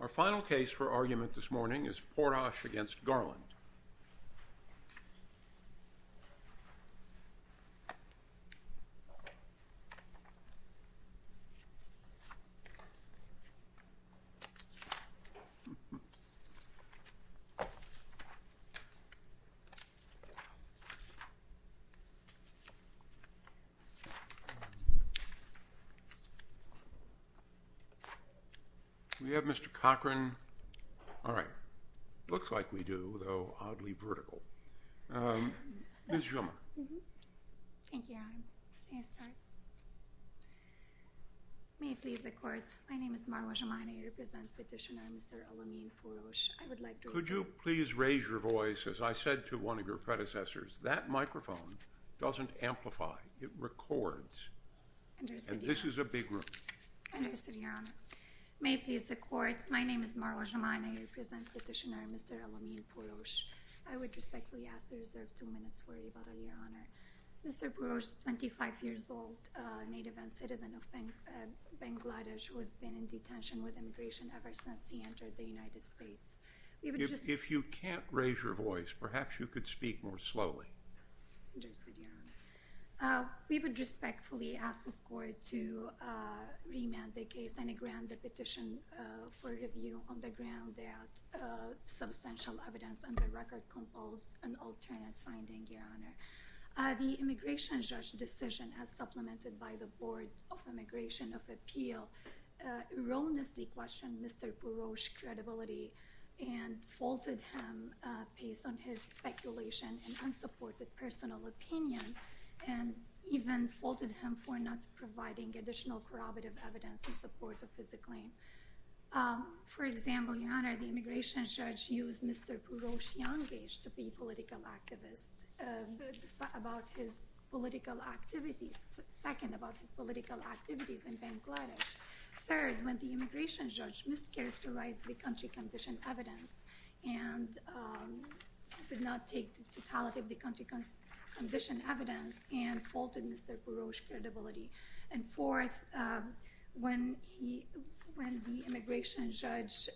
Our final case for argument this morning is Porosh v. Garland. We have Mr. Cochran. All right. Looks like we do, though oddly vertical. Ms. Schumer. Thank you, Your Honor. May I start? May it please the Court. My name is Marwa Jemani. I represent Petitioner Mr. Al Amin Porosh. I would like to... Could you please raise your voice as I said to one of your predecessors? That microphone doesn't amplify. It records. And this is a big room. May it please the Court. My name is Marwa Jemani. I represent Petitioner Mr. Al Amin Porosh. I would respectfully ask to reserve two minutes for rebuttal, Your Honor. Mr. Porosh, 25 years old, native and citizen of Bangladesh, who has been in detention with immigration ever since he entered the United States. If you can't raise your voice, perhaps you could speak more slowly. Interested, Your Honor. We would respectfully ask this Court to remand the case and grant the petition for review on the ground that substantial evidence on the record compels an alternate finding, Your Honor. The immigration judge's decision, as supplemented by the Board of Immigration of Appeal, erroneously questioned Mr. Porosh's credibility and faulted him based on his speculation and unsupported personal opinion and even faulted him for not providing additional corroborative evidence in support of his claim. For example, Your Honor, the immigration judge used Mr. Porosh Yangej to be a political activist about his political activities, second, about his political activities in Bangladesh. Third, when the immigration judge mischaracterized the country condition evidence and did not take the totality of the country condition evidence and faulted Mr. Porosh's credibility. And fourth, when the immigration judge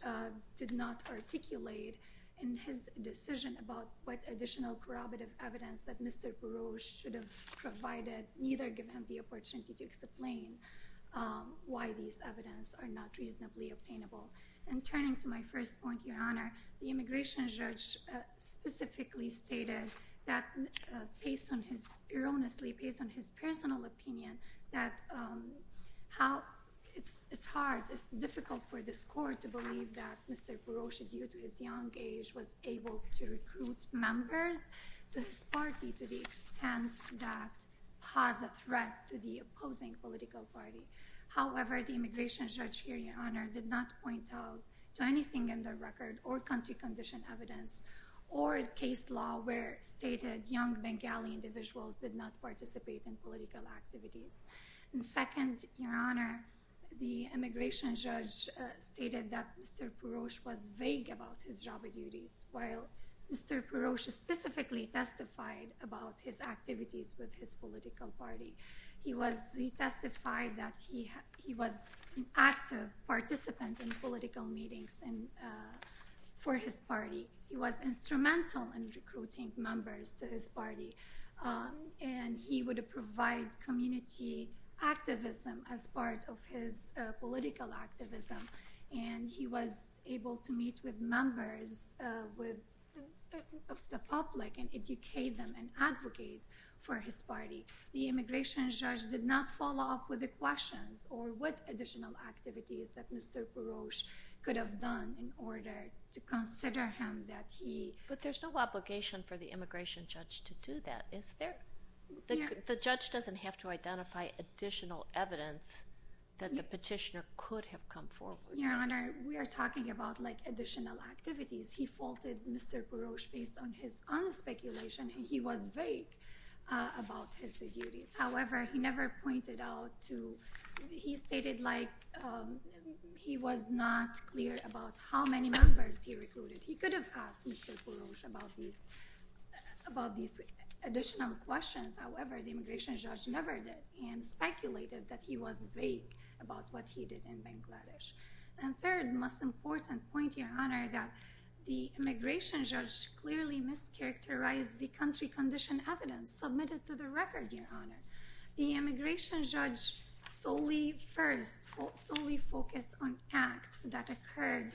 did not articulate in his decision about what additional corroborative evidence that Mr. Porosh should have provided, neither give him the opportunity to explain why these evidence are not reasonably obtainable. And turning to my first point, Your Honor, the immigration judge specifically stated that, based on his, erroneously based on his personal opinion, that how it's hard, it's difficult for this court to believe that Mr. Porosh, due to his young age, was able to recruit members to his party to the extent that has a threat to the opposing political party. However, the immigration judge here, Your Honor, did not point out to anything in the record or country condition evidence or case law where stated young Bengali individuals did not participate in political activities. And second, Your Honor, the immigration judge stated that Mr. Porosh was vague about his job duties, while Mr. Porosh specifically testified about his activities with his political party. He testified that he was an active participant in political meetings for his party. He was instrumental in recruiting members to his party. And he would provide community activism as part of his political activism. And he was able to meet with members of the public and educate them and advocate for his party. The immigration judge did not follow up with the questions or what additional activities that Mr. Porosh could have done in order to consider him that he... But there's no obligation for the immigration judge to do that, is there? The judge doesn't have to identify additional evidence that the petitioner could have come forward. Your Honor, we are talking about, like, additional activities. He faulted Mr. Porosh based on his own speculation, and he was vague about his duties. However, he never pointed out to... He stated, like, he was not clear about how many members he recruited. He could have asked Mr. Porosh about these additional questions. However, the immigration judge never did and speculated that he was vague about what he did in Bangladesh. And third, most important point, Your Honor, that the immigration judge clearly mischaracterized the country condition evidence submitted to the record, Your Honor. The immigration judge solely focused on acts that occurred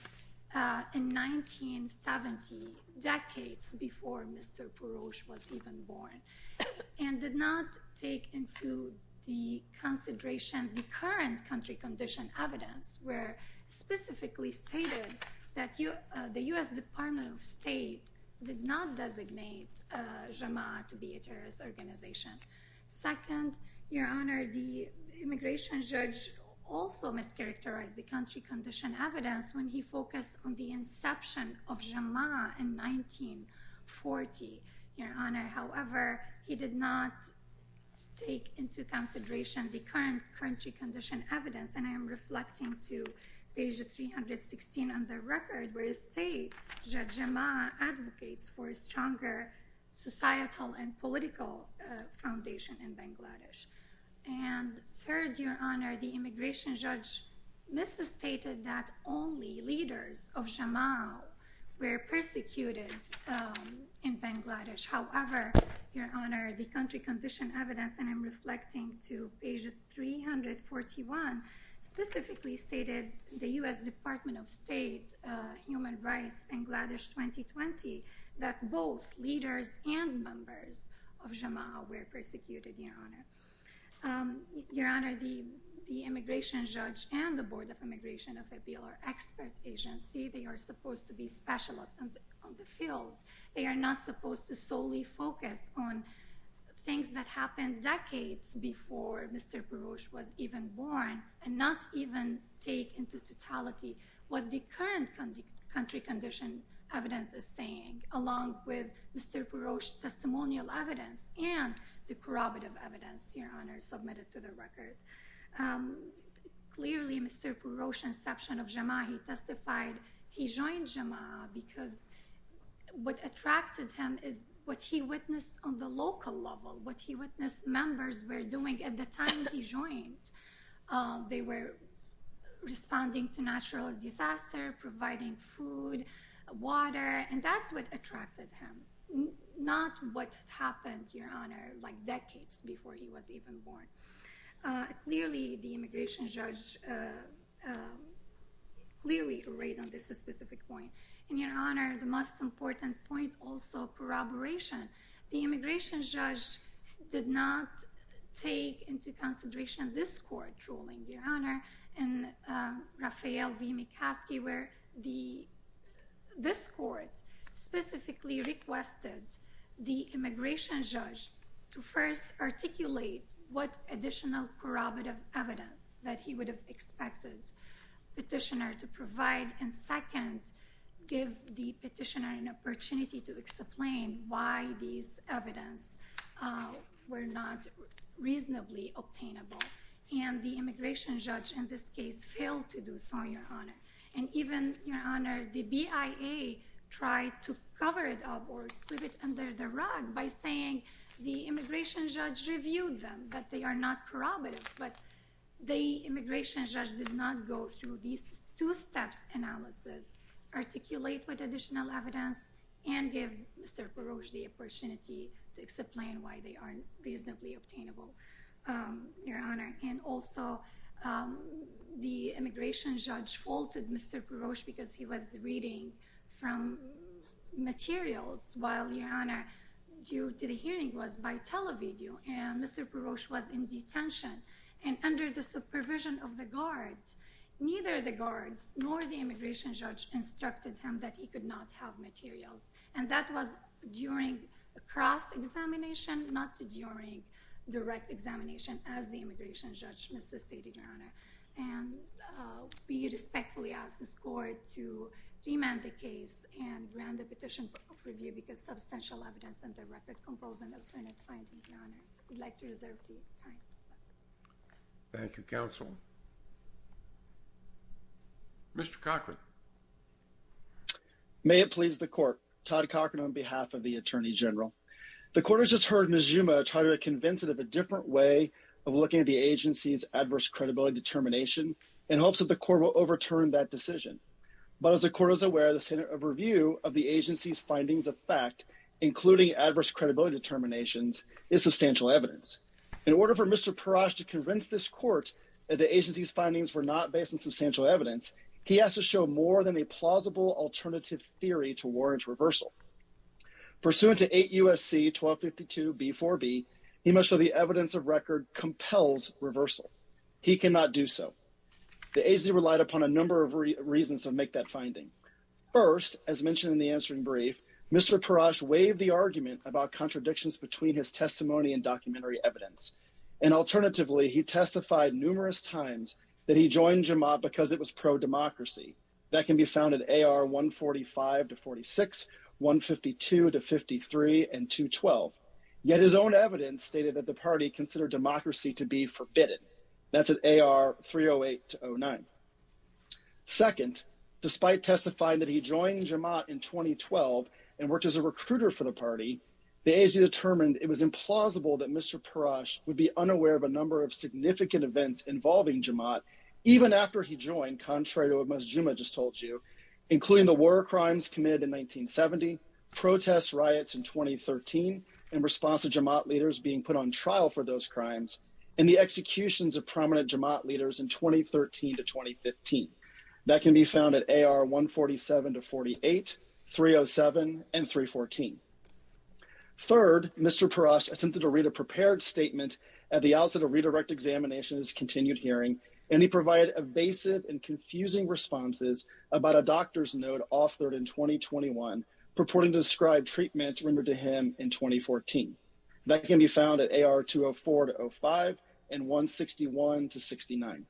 in 1970, decades before Mr. Porosh was even born, and did not take into the consideration the current country condition evidence, where specifically stated that the U.S. Department of State did not designate JAMA to be a terrorist organization. Second, Your Honor, the immigration judge also mischaracterized the country condition evidence when he focused on the inception of JAMA in 1940, Your Honor. However, he did not take into consideration the current country condition evidence, and I am reflecting to page 316 on the record, where it states that JAMA advocates for a stronger societal and political foundation in Bangladesh. And third, Your Honor, the immigration judge misstated that only leaders of JAMA were persecuted in Bangladesh. However, Your Honor, the country condition evidence, and I'm reflecting to page 341, specifically stated the U.S. Department of State, Human Rights, Bangladesh 2020, that both leaders and members of JAMA were persecuted, Your Honor. Your Honor, the immigration judge and the Board of Immigration of a BLR expert agency, they are supposed to be special on the field. They are not supposed to solely focus on things that happened decades before Mr. Purosh was even born, and not even take into totality what the current country condition evidence is saying, along with Mr. Purosh's testimonial evidence and the corroborative evidence, Your Honor, submitted to the record. Clearly, Mr. Purosh's inception of JAMA, he testified, he joined JAMA because what attracted him is what he witnessed on the local level, what he witnessed members were doing at the time he joined. They were responding to natural disaster, providing food, water, and that's what attracted him, not what happened, Your Honor, like decades before he was even born. Clearly, the immigration judge, clearly arrayed on this specific point. And Your Honor, the most important point, also corroboration. The immigration judge did not take into consideration this court ruling, Your Honor, in Raphael v. McCaskey, where this court specifically requested the immigration judge to first articulate what additional corroborative evidence that he would have expected petitioner to provide, and second, give the petitioner an opportunity to explain why these evidence were not reasonably obtainable. And the immigration judge, in this case, failed to do so, Your Honor. And even, Your Honor, the BIA tried to cover it up or sweep it under the rug by saying the immigration judge reviewed them, that they are not corroborative, but the immigration judge did not go through these two steps analysis, articulate what additional evidence, and give Mr. Purosh the opportunity to explain why they aren't reasonably obtainable, Your Honor. And also, the immigration judge faulted Mr. Purosh because he was reading from materials, while, Your Honor, due to the hearing was by television, and Mr. Purosh was in detention. And under the supervision of the guards, neither the guards nor the immigration judge instructed him that he could not have materials. And that was during a cross-examination, not during direct examination as the immigration judge insisted, Your Honor. And we respectfully ask this court to remand the case and grant the petition for review because substantial evidence and the record compels an alternative finding, Your Honor. We'd like to reserve the time. Thank you, counsel. Mr. Cochran. May it please the court. Todd Cochran on behalf of the Attorney General. The court has just heard Ms. Zuma try to convince it of a different way of looking at the agency's adverse credibility determination in hopes that the court will overturn that decision. But as the court is aware, the standard of review of the agency's findings of fact, including adverse credibility determinations, is substantial evidence. In order for Mr. Purosh to convince this court that the agency's findings were not based on substantial evidence, he has to show more than a plausible alternative theory to warrant reversal. Pursuant to 8 U.S.C. 1252b4b, he must show the evidence of record compels reversal. He cannot do so. The agency relied upon a number of reasons to make that finding. First, as mentioned in the answering brief, Mr. Purosh waived the argument about contradictions between his testimony and documentary evidence. And alternatively, he testified numerous times that he joined Jemaah because it was pro-democracy. That can be found at AR 145-46, 152-53, and 212. Yet his own evidence stated that the party considered democracy to be forbidden. That's at AR 308-09. Second, despite testifying that he joined Jemaah in 2012 and worked as a recruiter for the party, the agency determined it was implausible that Mr. Purosh would be unaware of a number of significant events involving Jemaah, even after he joined, contrary to what Ms. Juma just told you, including the war crimes committed in 1970, protests, riots in 2013, and response to Jemaah leaders being put on trial for those crimes, and the executions of prominent Jemaah leaders in 2013 to 2014. That can be found at AR 147-48, 307, and 314. Third, Mr. Purosh attempted to read a prepared statement at the outset of redirect examination's continued hearing, and he provided evasive and confusing responses about a doctor's note offered in 2021 purporting to describe treatment rendered to him in 2014. That can be found at AR 204-05, and 161-69.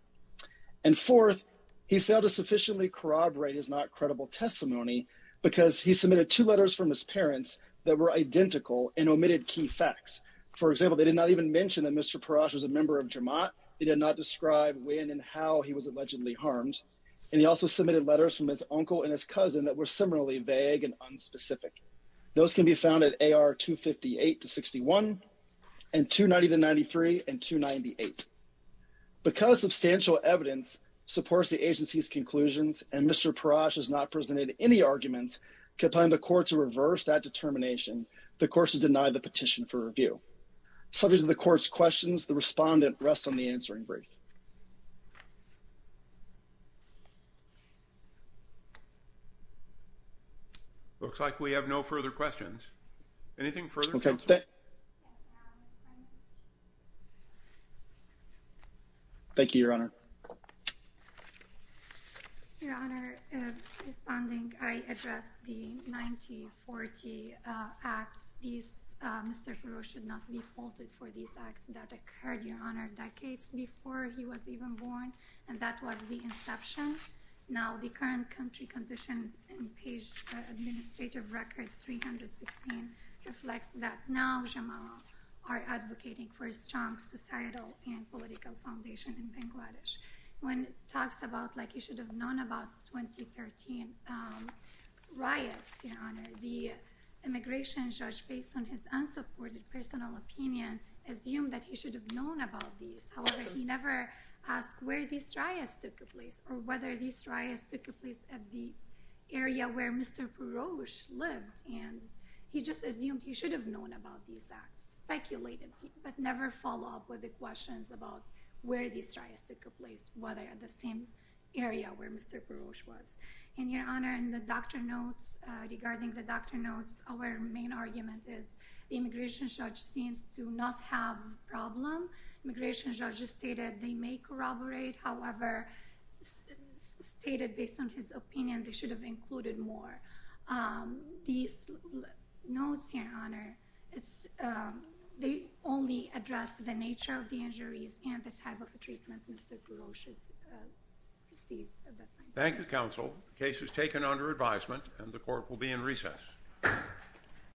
And fourth, he failed to sufficiently corroborate his not-credible testimony because he submitted two letters from his parents that were identical and omitted key facts. For example, they did not even mention that Mr. Purosh was a member of Jemaah. They did not describe when and how he was allegedly harmed. And he also submitted letters from his uncle and his cousin that were similarly vague and unspecific. Those can be found at AR 258-61, and 290-93, and 298. Because substantial evidence supports the agency's conclusions, and Mr. Purosh has not presented any arguments, to find the court to reverse that determination, the court should deny the petition for review. Subject to the court's questions, the respondent rests on the answering brief. Looks like we have no further questions. Anything further, counsel? Okay. Thank you, Your Honor. Your Honor, responding, I address the 1940 acts. Mr. Purosh should not be faulted for these acts that occurred, Your Honor, decades before he was even born, and that was the inception. Now, the current country condition in page administrative record 316 reflects that now Jemaah are advocating for a strong societal and political foundation in Bangladesh. When it talks about, like he should have known about 2013 riots, Your Honor, the immigration judge, based on his unsupported personal opinion, assumed that he should have known about these. However, he never asked where these riots took place, or whether these riots took place at the area where Mr. Purosh lived. And he just assumed he should have known about these acts, speculated, but never followed up with the questions about where these riots took place, whether at the same area where Mr. Purosh was. And Your Honor, in the doctor notes, regarding the doctor notes, our main argument is the immigration judge seems to not have a problem. Immigration judge stated they may corroborate. However, stated based on his opinion, they should have included more. These notes here, Your Honor, they only address the nature of the injuries and the type of treatment Mr. Purosh received at that time. Thank you, counsel. The case is taken under advisement, and the court will be in recess.